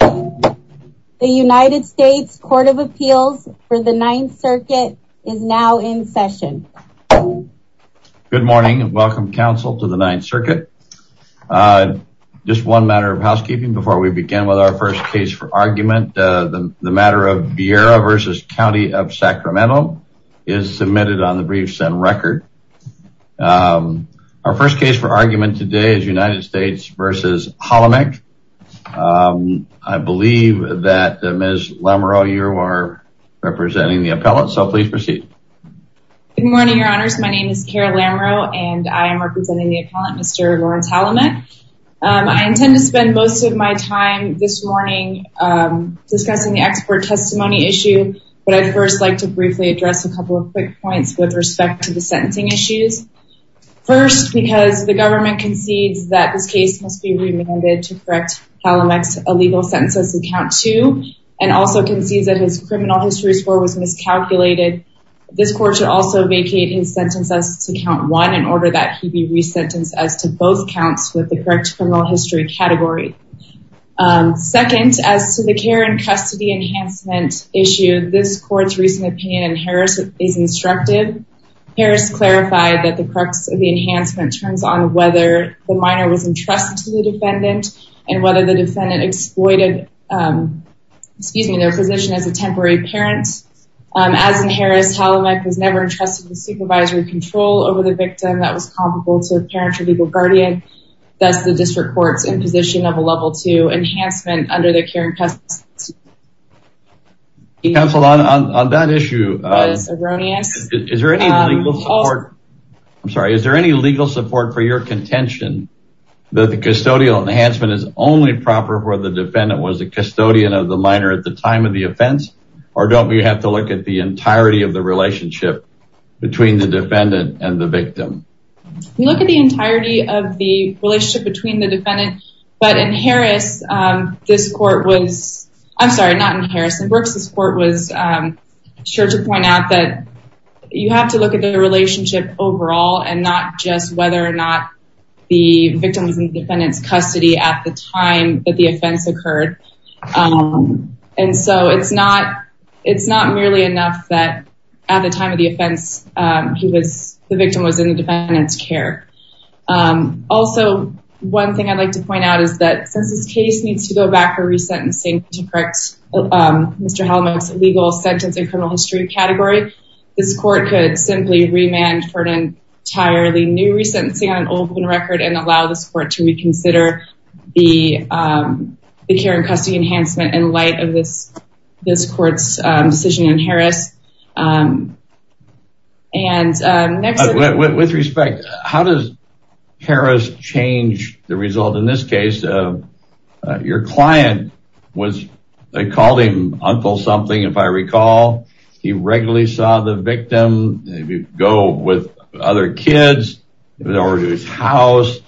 The United States Court of Appeals for the Ninth Circuit is now in session. Good morning and welcome, Council, to the Ninth Circuit. Just one matter of housekeeping before we begin with our first case for argument. The matter of Vieira v. County of Sacramento is submitted on the briefs and record. Our first case for argument today is United States v. Halamek. I believe that Ms. Lamereau, you are representing the appellate, so please proceed. Good morning, Your Honors. My name is Kara Lamereau, and I am representing the appellate, Mr. Lawrence Halamek. I intend to spend most of my time this morning discussing the expert testimony issue, but I'd first like to briefly address a couple of quick points with respect to the sentencing issues. First, because the government concedes that this case must be remanded to correct Halamek's illegal sentences in count two, and also concedes that his criminal history score was miscalculated, this court should also vacate his sentences to count one in order that he be resentenced as to both counts with the correct criminal history category. Second, as to the care and custody enhancement issue, this court's recent opinion in Harris is instructive. Harris clarified that the crux of the enhancement turns on whether the minor was entrusted to the defendant and whether the defendant exploited their position as a temporary parent. As in Harris, Halamek was never entrusted with supervisory control over the victim that was comparable to a parent or legal guardian, thus the district court's imposition of a level two enhancement under the care and custody. Counsel, on that issue, is there any legal support for your contention that the custodial enhancement is only proper where the defendant was a custodian of the minor at the time of the offense, or don't we have to look at the entirety of the relationship between the defendant and the victim? We look at the entirety of the relationship between the defendant, but in Harris, this court was... I'm sorry, not in Harris. In Brooks, this court was sure to point out that you have to look at the relationship overall and not just whether or not the victim was in the defendant's custody at the time that the offense occurred. And so it's not merely enough that at the time of the offense, the victim was in the defendant's care. Also, one thing I'd like to point out is that since this case needs to go back for re-sentencing to correct Mr. Halamek's illegal sentence in criminal history category, this court could simply remand for an entirely new re-sentencing on an open record and allow this court to reconsider the care and custody enhancement in light of this court's decision in Harris. With respect, how does Harris change the result in this case? Your client, they called him Uncle something, if I recall. He regularly saw the victim go with other kids over to his house.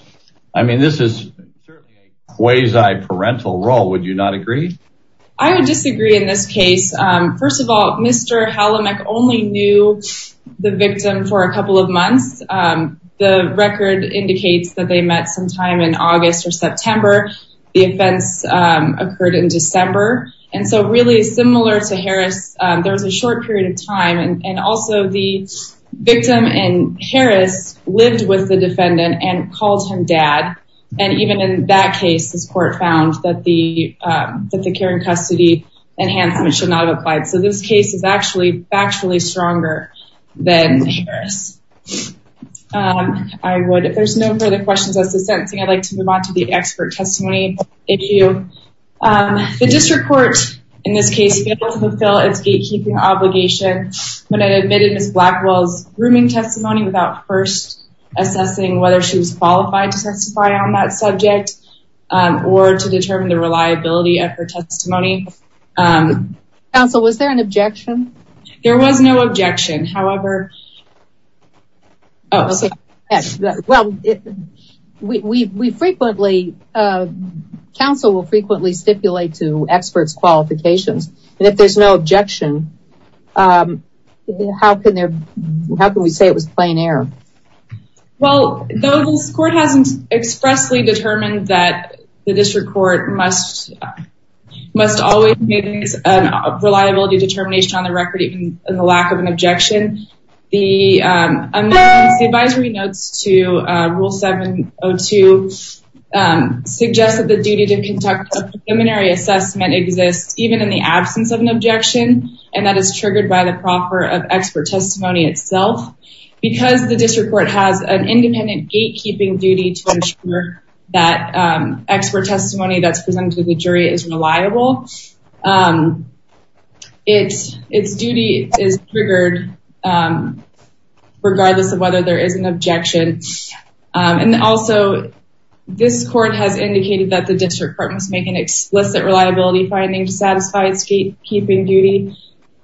I mean, this is certainly a quasi-parental role. Would you not agree? I would disagree in this case. First of all, Mr. Halamek only knew the victim for a couple of months. The record indicates that they met sometime in August or September. The offense occurred in December. And so really similar to Harris, there was a short period of time. And also, the victim in Harris lived with the defendant and called him Dad. And even in that case, this court found that the care and custody enhancement should not have applied. So this case is actually factually stronger than Harris. If there's no further questions as to sentencing, I'd like to move on to the expert testimony issue. The district court, in this case, failed to fulfill its gatekeeping obligation when it admitted Ms. Blackwell's grooming testimony without first assessing whether she was qualified to testify on that subject or to determine the reliability of her testimony. Counsel, was there an objection? There was no objection. However... Well, we frequently... Counsel will frequently stipulate to experts' qualifications. And if there's no objection, how can we say it was plain error? Well, this court hasn't expressly determined that the district court must always make a reliability determination on the record even in the lack of an objection. The advisory notes to Rule 702 suggest that the duty to conduct a preliminary assessment exists even in the absence of an objection. And that is triggered by the proffer of expert testimony itself. Because the district court has an independent gatekeeping duty to ensure that expert testimony that's presented to the jury is reliable, its duty is triggered regardless of whether there is an objection. And also, this court has indicated that the district court must make an explicit reliability finding to satisfy its gatekeeping duty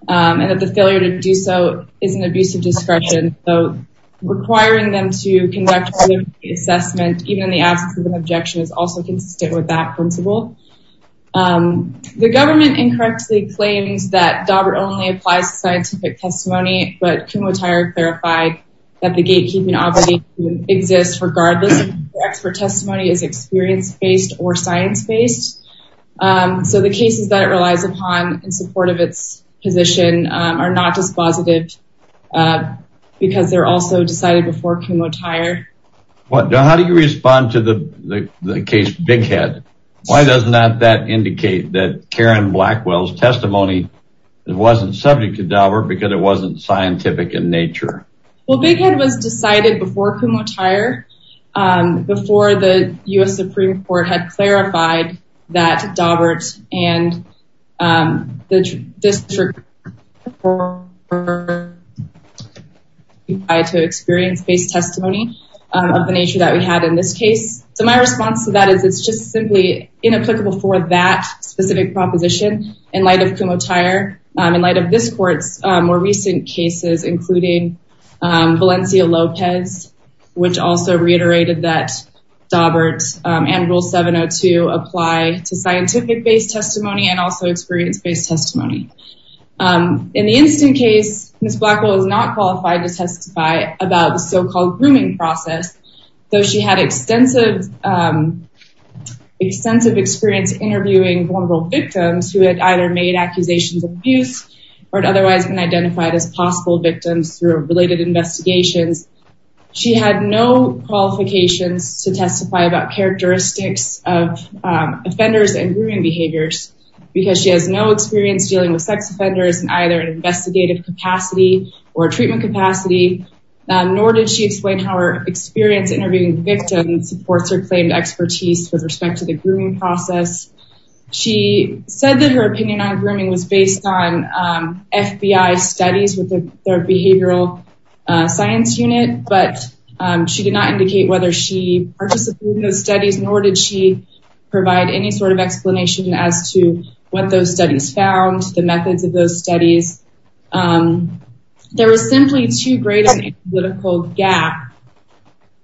and that the failure to do so is an abuse of discretion. So, requiring them to conduct a preliminary assessment even in the absence of an objection is also consistent with that principle. The government incorrectly claims that Daubert only applies to scientific testimony, but Kumotair clarified that the gatekeeping obligation exists regardless if the expert testimony is experience-based or science-based. So, the cases that it relies upon in support of its position are not dispositive because they're also decided before Kumotair. Now, how do you respond to the case Big Head? Why does not that indicate that Karen Blackwell's testimony wasn't subject to Daubert because it wasn't scientific in nature? Well, Big Head was decided before Kumotair, before the U.S. Supreme Court had clarified that Daubert and the district court were required to experience-based testimony of the nature that we had in this case. So, my response to that is it's just simply inapplicable for that specific proposition in light of Kumotair. In light of this court's more recent cases, including Valencia Lopez, which also reiterated that Daubert and Rule 702 apply to scientific-based testimony and also experience-based testimony. In the instant case, Ms. Blackwell is not qualified to testify about the so-called grooming process, though she had extensive experience interviewing vulnerable victims who had either made accusations of abuse or had otherwise been identified as possible victims through related investigations. She had no qualifications to testify about characteristics of offenders and grooming behaviors because she has no experience dealing with sex offenders in either an investigative capacity or a treatment capacity, nor did she explain how her experience interviewing victims supports her claimed expertise with respect to the grooming process. She said that her opinion on grooming was based on FBI studies with their behavioral science unit, but she did not indicate whether she participated in those studies, nor did she provide any sort of explanation as to what those studies found, the methods of those studies. There was simply too great a political gap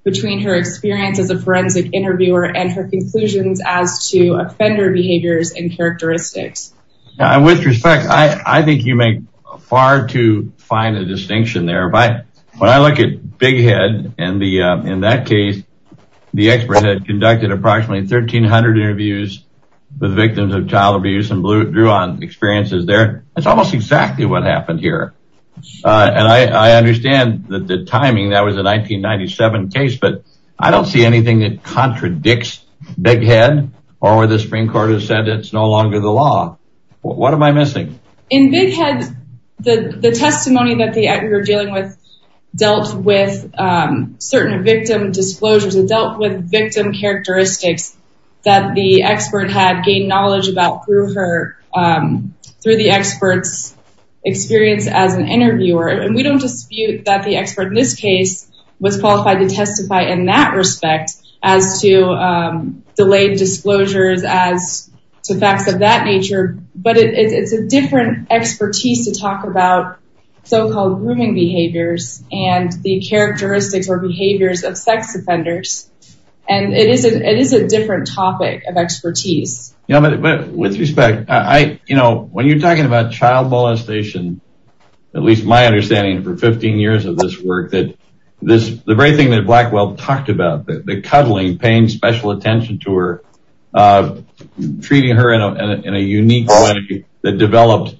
between her experience as a forensic interviewer and her conclusions as to offender behaviors and characteristics. With respect, I think you make far too fine a distinction there. When I look at Big Head in that case, the expert had conducted approximately 1,300 interviews with victims of child abuse and drew on experiences there. That's almost exactly what happened here. And I understand the timing. That was a 1997 case, but I don't see anything that contradicts Big Head or where the Supreme Court has said it's no longer the law. What am I missing? In Big Head, the testimony that we were dealing with dealt with certain victim disclosures. It dealt with victim characteristics that the expert had gained knowledge about through the expert's experience as an interviewer. And we don't dispute that the expert in this case was qualified to testify in that respect as to delayed disclosures as to facts of that nature, but it's a different expertise to talk about so-called grooming behaviors and the characteristics or behaviors of sex offenders. And it is a different topic of expertise. With respect, when you're talking about child molestation, at least my understanding for 15 years of this work, the very thing that Blackwell talked about, the cuddling, paying special attention to her, treating her in a unique way that developed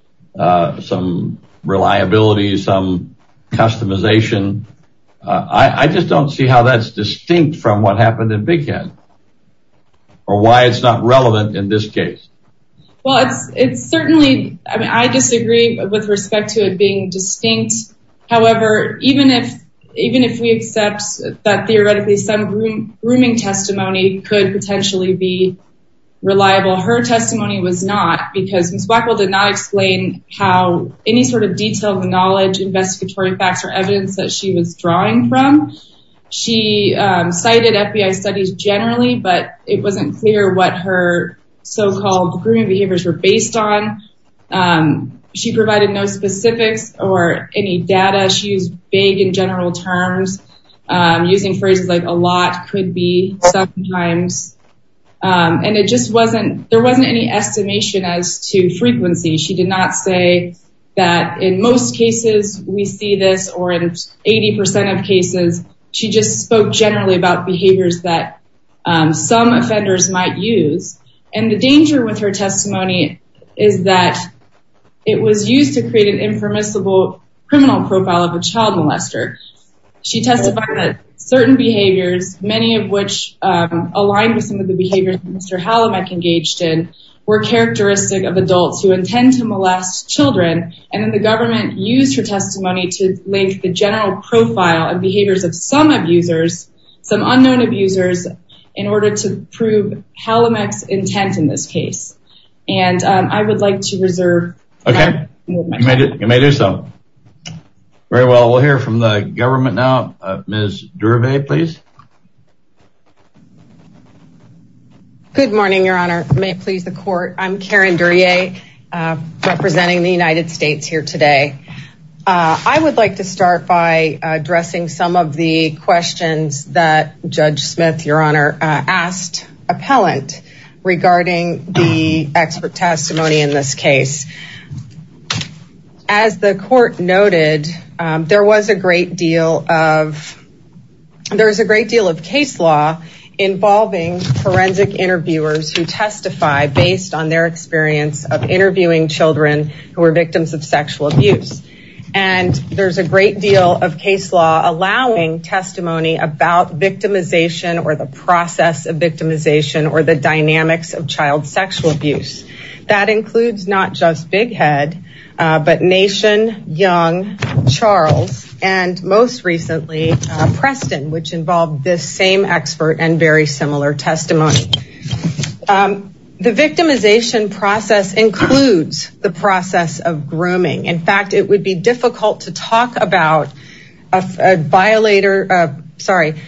some reliability, some customization, I just don't see how that's distinct from what happened in Big Head or why it's not relevant in this case. Well, it's certainly, I disagree with respect to it being distinct. However, even if we accept that theoretically some grooming testimony could potentially be reliable, her testimony was not because Ms. Blackwell did not explain how any sort of detailed knowledge, investigatory facts or evidence that she was drawing from. She cited FBI studies generally, but it wasn't clear what her so-called grooming behaviors were based on. She provided no specifics or any data. She used vague and general terms, using phrases like a lot, could be, sometimes. And it just wasn't, there wasn't any estimation as to frequency. She did not say that in most cases we see this or in 80% of cases, she just spoke generally about behaviors that some offenders might use. And the danger with her testimony is that it was used to create an impermissible criminal profile of a child molester. She testified that certain behaviors, many of which aligned with some of the behaviors that Mr. Halimek engaged in, were characteristic of adults who intend to molest children. And then the government used her testimony to link the general profile and behaviors of some abusers, some unknown abusers, in order to prove Halimek's intent in this case. And I would like to reserve time. Okay, you may do so. Very well, we'll hear from the government now. Ms. Durvey, please. Good morning, Your Honor. May it please the court. I'm Karen Duryea, representing the United States here today. As the court noted, there was a great deal of case law involving forensic interviewers who testify based on their experience of interviewing children who were victims of sexual abuse. And there's a great deal of case law allowing testimony about victimization or the process of victimization or the dynamics of child sexual abuse. That includes not just Big Head, but Nation, Young, Charles, and most recently, Preston, which involved this same expert and very similar testimony. The victimization process includes the process of grooming. In fact, it would be difficult to talk about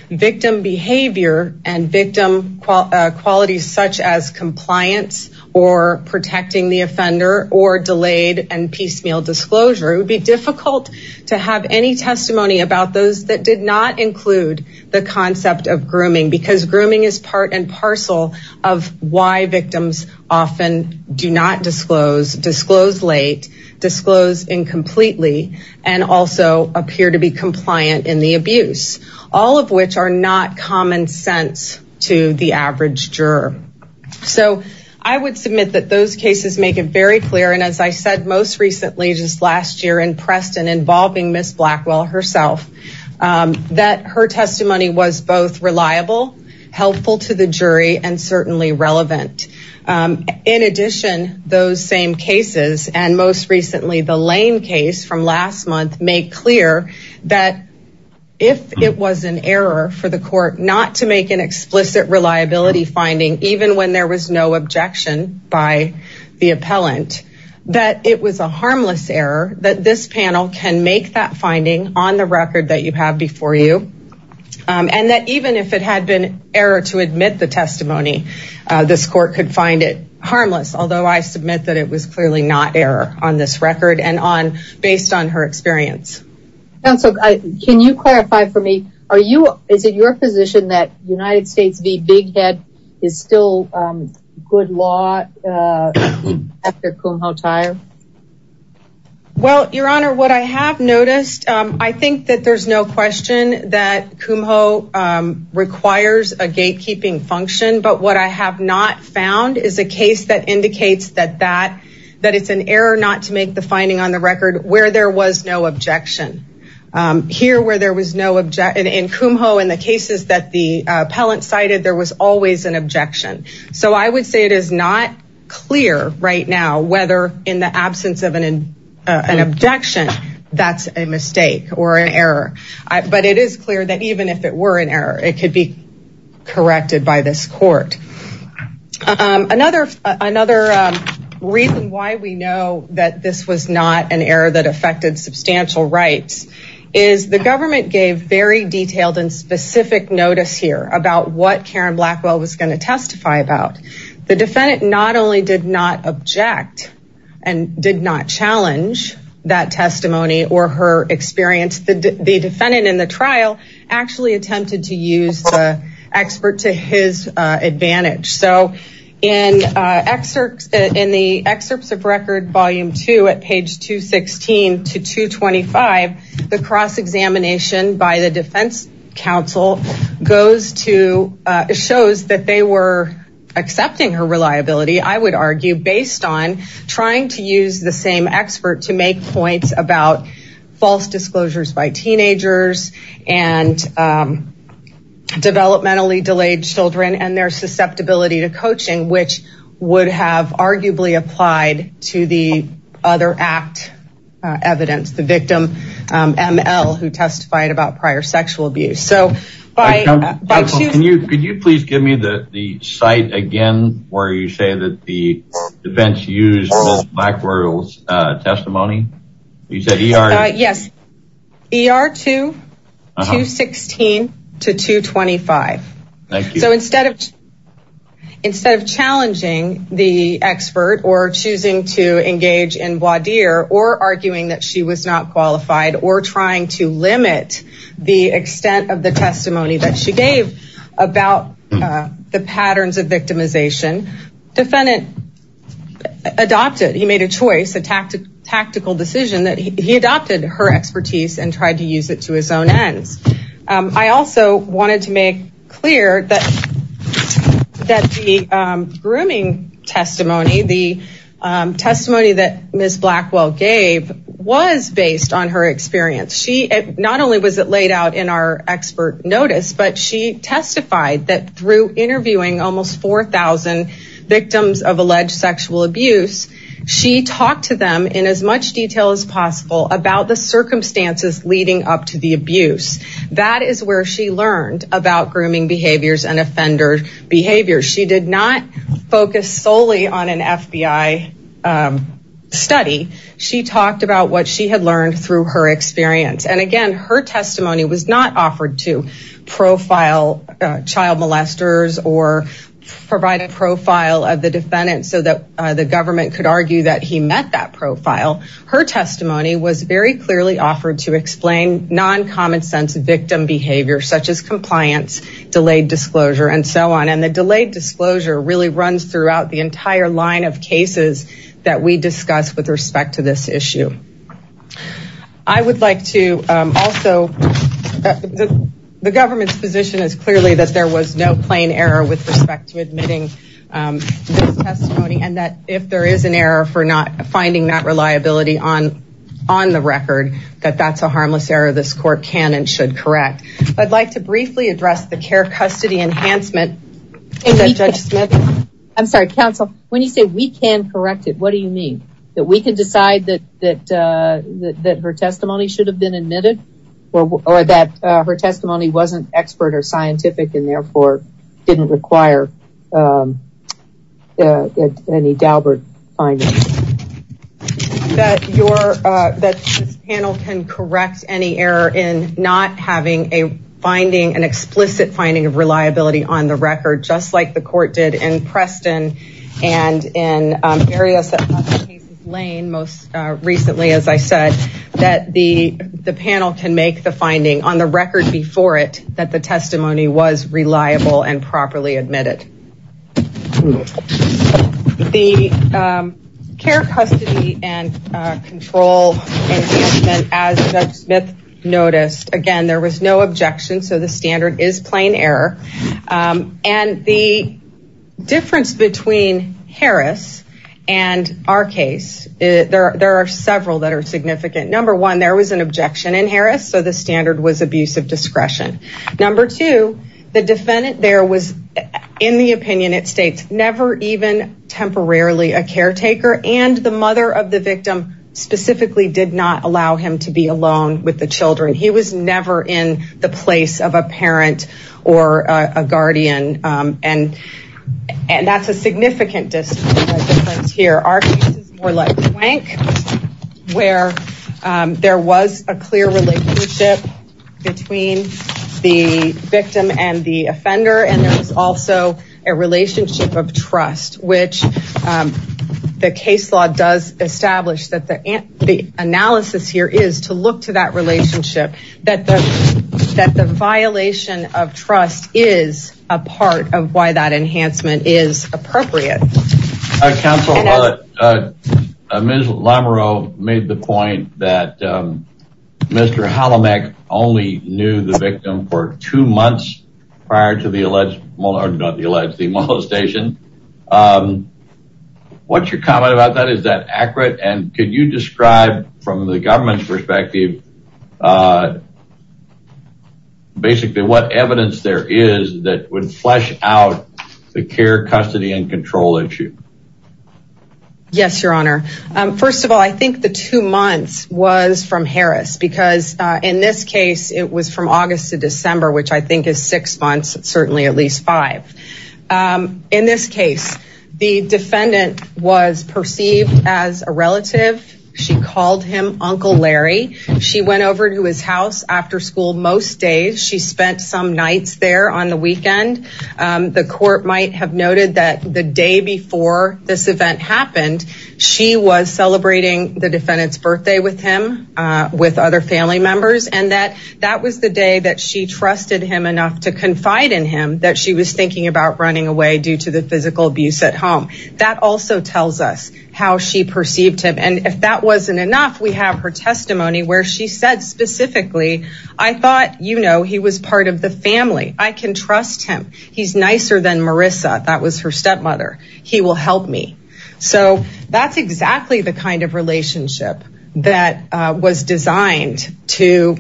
victim behavior and victim qualities such as compliance or protecting the offender or delayed and piecemeal disclosure. It would be difficult to have any testimony about those that did not include the concept of grooming because grooming is part and parcel of why victims often do not disclose, disclose late, disclose incompletely, and also appear to be compliant in the abuse, all of which are not common sense to the average juror. So I would submit that those cases make it very clear. And as I said most recently, just last year in Preston involving Ms. Blackwell herself, that her testimony was both reliable, helpful to the jury, and certainly relevant. In addition, those same cases and most recently the Lane case from last month made clear that if it was an error for the court not to make an explicit reliability finding even when there was no objection by the appellant, that it was a harmless error that this panel can make that finding on the record that you have before you. And that even if it had been error to admit the testimony, this court could find it harmless, although I submit that it was clearly not error on this record and based on her experience. Counsel, can you clarify for me, is it your position that United States v. Big Head is still good law after Kumho Tire? Well, Your Honor, what I have noticed, I think that there's no question that Kumho requires a gatekeeping function. But what I have not found is a case that indicates that it's an error not to make the finding on the record where there was no objection. Here where there was no objection, in Kumho, in the cases that the appellant cited, there was always an objection. So I would say it is not clear right now whether in the absence of an objection, that's a mistake or an error. But it is clear that even if it were an error, it could be corrected by this court. Another reason why we know that this was not an error that affected substantial rights is the government gave very detailed and specific notice here about what Karen Blackwell was going to testify about. The defendant not only did not object and did not challenge that testimony or her experience, the defendant in the trial actually attempted to use the expert to his advantage. So in the excerpts of record volume 2 at page 216 to 225, the cross-examination by the defense counsel shows that they were accepting her reliability, I would argue, based on trying to use the same expert to make points about false disclosures by teenagers and developmentally delayed children and their susceptibility to coaching, which would have arguably applied to the other act evidence, the victim, ML, who testified about prior sexual abuse. Can you please give me the site again where you say that the defense used Ms. Blackwell's testimony? Yes, ER 2, 216 to 225. Thank you. So instead of challenging the expert or choosing to engage in voir dire or arguing that she was not qualified or trying to limit the extent of the testimony that she gave about the patterns of victimization, the defendant adopted, he made a choice, a tactical decision that he adopted her expertise and tried to use it to his own ends. I also wanted to make clear that the grooming testimony, the testimony that Ms. Blackwell gave, was based on her experience. Not only was it laid out in our expert notice, but she testified that through interviewing almost 4,000 victims of alleged sexual abuse, she talked to them in as much detail as possible about the circumstances leading up to the abuse. That is where she learned about grooming behaviors and offender behavior. She did not focus solely on an FBI study. She talked about what she had learned through her experience. And again, her testimony was not offered to profile child molesters or provide a profile of the defendant so that the government could argue that he met that profile. Her testimony was very clearly offered to explain non-common sense victim behavior, such as compliance, delayed disclosure, and so on. And the delayed disclosure really runs throughout the entire line of cases that we discussed with respect to this issue. I would like to also... The government's position is clearly that there was no plain error with respect to admitting this testimony, and that if there is an error for not finding that reliability on the record, that that's a harmless error this court can and should correct. I'd like to briefly address the care custody enhancement that Judge Smith... I'm sorry, counsel. When you say we can correct it, what do you mean? That we can decide that her testimony should have been admitted? Or that her testimony wasn't expert or scientific and therefore didn't require any Daubert findings? That this panel can correct any error in not having an explicit finding of reliability on the record, just like the court did in Preston and in areas that... Lane most recently, as I said, that the panel can make the finding on the record before it that the testimony was reliable and properly admitted. The care custody and control enhancement, as Judge Smith noticed, again, there was no objection, so the standard is plain error. And the difference between Harris and our case, there are several that are significant. Number one, there was an objection in Harris, so the standard was abuse of discretion. Number two, the defendant there was, in the opinion it states, never even temporarily a caretaker and the mother of the victim specifically did not allow him to be alone with the children. He was never in the place of a parent or a guardian. And that's a significant difference here. Our case is more like Wank, where there was a clear relationship between the victim and the offender and there was also a relationship of trust, which the case law does establish that the analysis here is to look to that relationship, that the violation of trust is a part of why that enhancement is appropriate. Counsel, Ms. Lamoureux made the point that Mr. Hallameck only knew the victim for two months prior to the alleged molestation. What's your comment about that? Is that accurate? And could you describe from the government's perspective, basically what evidence there is that would flesh out the care, custody and control issue? Yes, your honor. First of all, I think the two months was from Harris because in this case, it was from August to December, which I think is six months, certainly at least five. In this case, the defendant was perceived as a relative. She called him Uncle Larry. She went over to his house after school. Most days she spent some nights there on the weekend. The court might have noted that the day before this event happened, she was celebrating the defendant's birthday with him, with other family members, and that that was the day that she trusted him enough to confide in him that she was thinking about running away due to the physical abuse at home. That also tells us how she perceived him. And if that wasn't enough, we have her testimony where she said specifically, I thought, you know, he was part of the family. I can trust him. He's nicer than Marissa. That was her stepmother. He will help me. So that's exactly the kind of relationship that was designed to.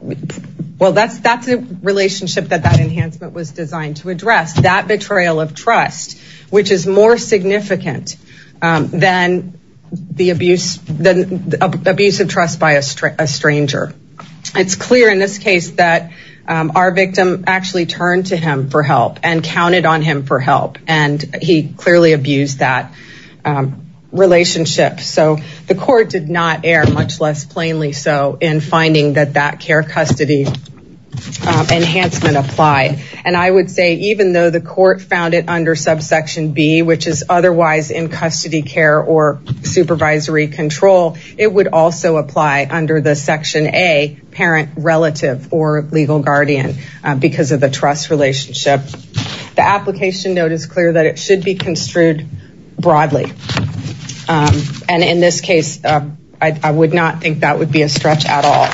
Well, that's that's a relationship that that enhancement was designed to address, that betrayal of trust, which is more significant than the abuse, the abuse of trust by a stranger. It's clear in this case that our victim actually turned to him for help and counted on him for help. And he clearly abused that relationship. So the court did not air much less plainly. So in finding that that care custody enhancement applied. And I would say even though the court found it under subsection B, which is otherwise in custody care or supervisory control, it would also apply under the Section A parent relative or legal guardian because of the trust relationship. The application note is clear that it should be construed broadly. And in this case, I would not think that would be a stretch at all.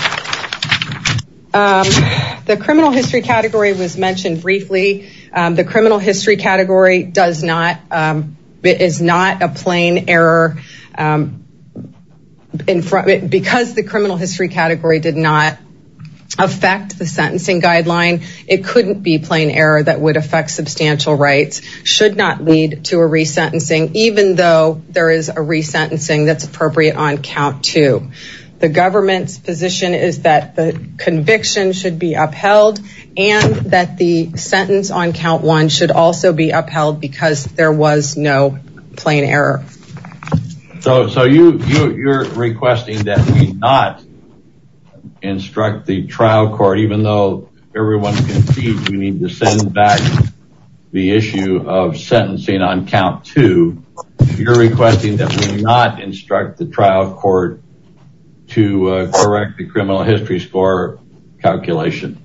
The criminal history category was mentioned briefly. The criminal history category does not. It is not a plain error in front of it because the criminal history category did not affect the sentencing guideline. It couldn't be plain error that would affect substantial rights should not lead to a resentencing, even though there is a resentencing that's appropriate on count to the government's position, is that the conviction should be upheld and that the sentence on count one should also be upheld because there was no plain error. So so you you're requesting that we not instruct the trial court, even though everyone can see we need to send back the issue of sentencing on count to your requesting that we not instruct the trial court to correct the criminal history score calculation.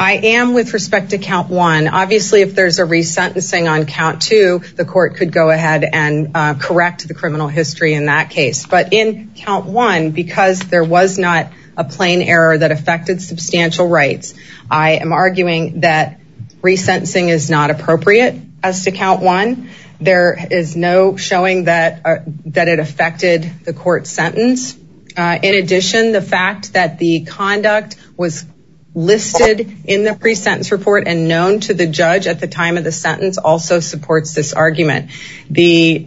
I am with respect to count one. Obviously, if there's a resentencing on count to the court could go ahead and correct the criminal history in that case. But in count one, because there was not a plain error that affected substantial rights, I am arguing that resentencing is not appropriate as to count one. There is no showing that that it affected the court sentence. In addition, the fact that the conduct was listed in the pre-sentence report and known to the judge at the time of the sentence also supports this argument. The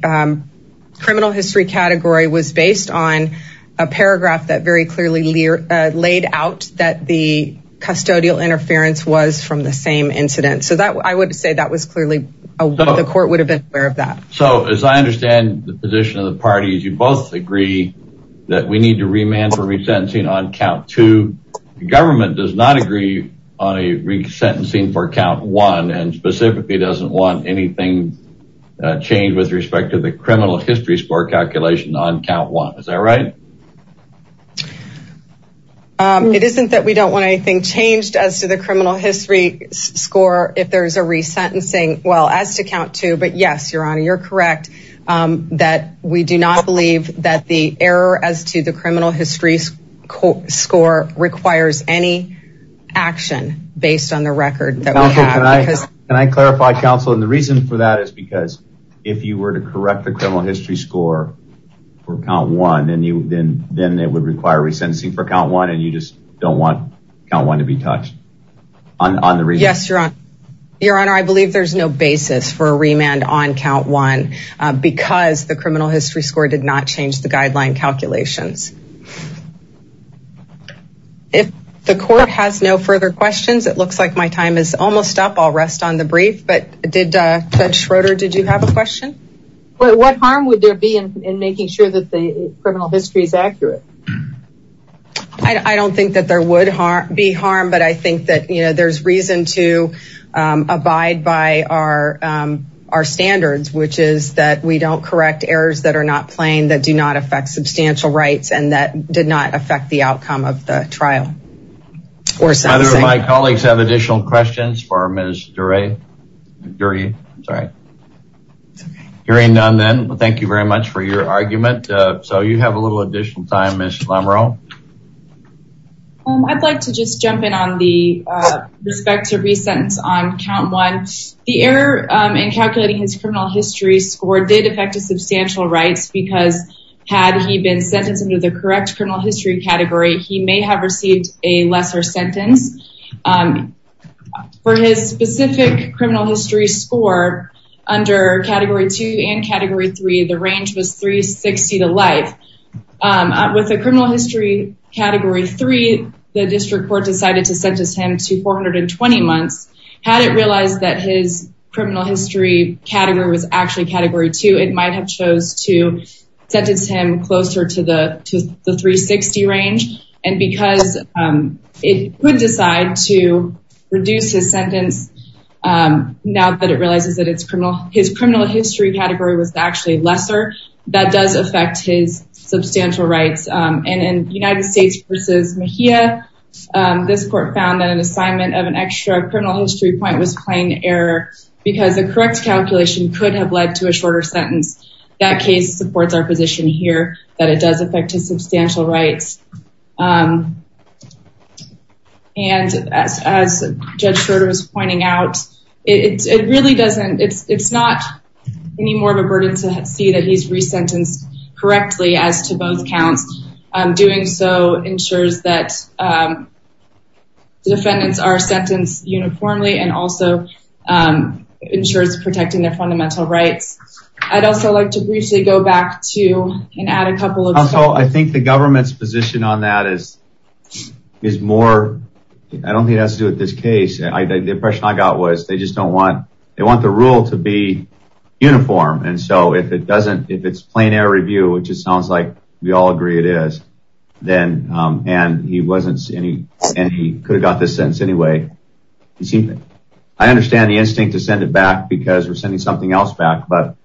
criminal history category was based on a paragraph that very clearly laid out that the custodial interference was from the same incident. So that I would say that was clearly the court would have been aware of that. So as I understand the position of the parties, you both agree that we need to remand for resentencing on count to the government does not agree on a resentencing for count one and specifically doesn't want anything changed with respect to the criminal history score calculation on count one. Is that right? It isn't that we don't want anything changed as to the criminal history score. If there is a resentencing, well, as to count two, but yes, your honor, you're correct. That we do not believe that the error as to the criminal history score requires any action based on the record. Can I clarify, counsel? And the reason for that is because if you were to correct the criminal history score for count one, then it would require resentencing for count one and you just don't want count one to be touched. Yes, your honor. Your honor, I believe there's no basis for a remand on count one because the criminal history score did not change the guideline calculations. If the court has no further questions, it looks like my time is almost up. I'll rest on the brief. But did Judge Schroeder, did you have a question? What harm would there be in making sure that the criminal history is accurate? I don't think that there would be harm, but I think that, you know, there's reason to abide by our standards, which is that we don't correct errors that are not plain, that do not affect substantial rights, and that did not affect the outcome of the trial. My colleagues have additional questions for Ms. Duray. Thank you very much for your argument. So you have a little additional time, Ms. Lamarone. I'd like to just jump in on the respect to resentence on count one. The error in calculating his criminal history score did affect his substantial rights because had he been sentenced under the correct criminal history category, he may have received a lesser sentence. For his specific criminal history score under Category 2 and Category 3, the range was 360 to life. With the criminal history Category 3, the district court decided to sentence him to 420 months. Had it realized that his criminal history category was actually Category 2, it might have chose to sentence him closer to the 360 range. And because it would decide to reduce his sentence now that it realizes that his criminal history category was actually lesser, that does affect his substantial rights. And in United States v. Mejia, this court found that an assignment of an extra criminal history point was plain error because the correct calculation could have led to a shorter sentence. That case supports our position here that it does affect his substantial rights. And as Judge Schroeder was pointing out, it's not any more of a burden to see that he's resentenced correctly as to both counts. Doing so ensures that the defendants are sentenced uniformly and also ensures protecting their fundamental rights. I'd also like to briefly go back to and add a couple of... I think the government's position on that is more... I don't think it has to do with this case. The impression I got was they just don't want... they want the rule to be uniform. And so if it doesn't... if it's plain error review, which it sounds like we all agree it is, then... and he wasn't... and he could have got this sentence anyway. I understand the instinct to send it back because we're sending something else back. But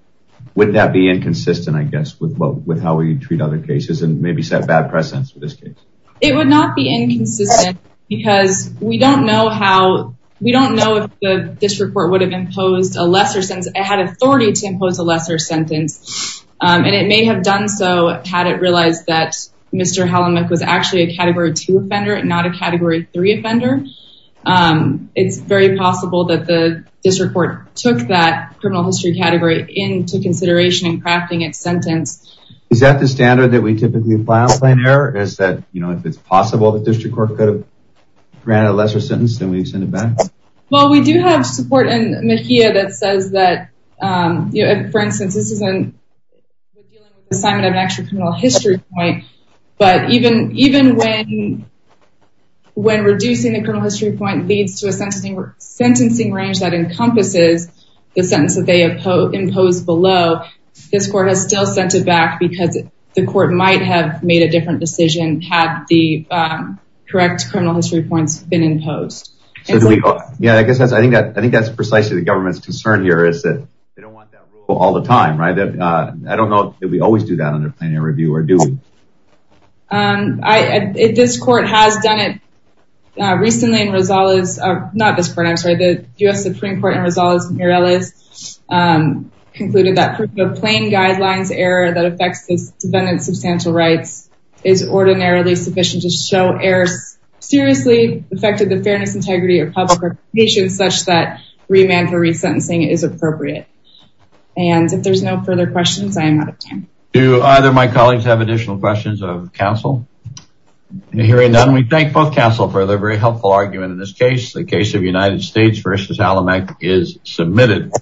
wouldn't that be inconsistent, I guess, with how we treat other cases and maybe set bad precedence for this case? It would not be inconsistent because we don't know how... we don't know if this report would have imposed a lesser sentence. It had authority to impose a lesser sentence. And it may have done so had it realized that Mr. Hellermich was actually a Category 2 offender and not a Category 3 offender. It's very possible that the District Court took that criminal history category into consideration in crafting its sentence. Is that the standard that we typically apply on plain error? Is that, you know, if it's possible that the District Court could have granted a lesser sentence, then we send it back? Well, we do have support in MHIA that says that... for instance, this isn't... But even when reducing the criminal history point leads to a sentencing range that encompasses the sentence that they have imposed below, this Court has still sent it back because the Court might have made a different decision had the correct criminal history points been imposed. Yeah, I guess that's... I think that's precisely the government's concern here is that they don't want that rule all the time, right? I don't know that we always do that under plain error review, or do we? This Court has done it recently in Rosales... not this court, I'm sorry. The U.S. Supreme Court in Rosales-Mireles concluded that proof of plain guidelines error that affects the defendant's substantial rights is ordinarily sufficient to show errors seriously affected the fairness, integrity, or public reputation such that remand for resentencing is appropriate. And if there's no further questions, I am out of time. Do either of my colleagues have additional questions of counsel? Hearing none, we thank both counsel for their very helpful argument in this case. The case of United States v. Allamec is submitted.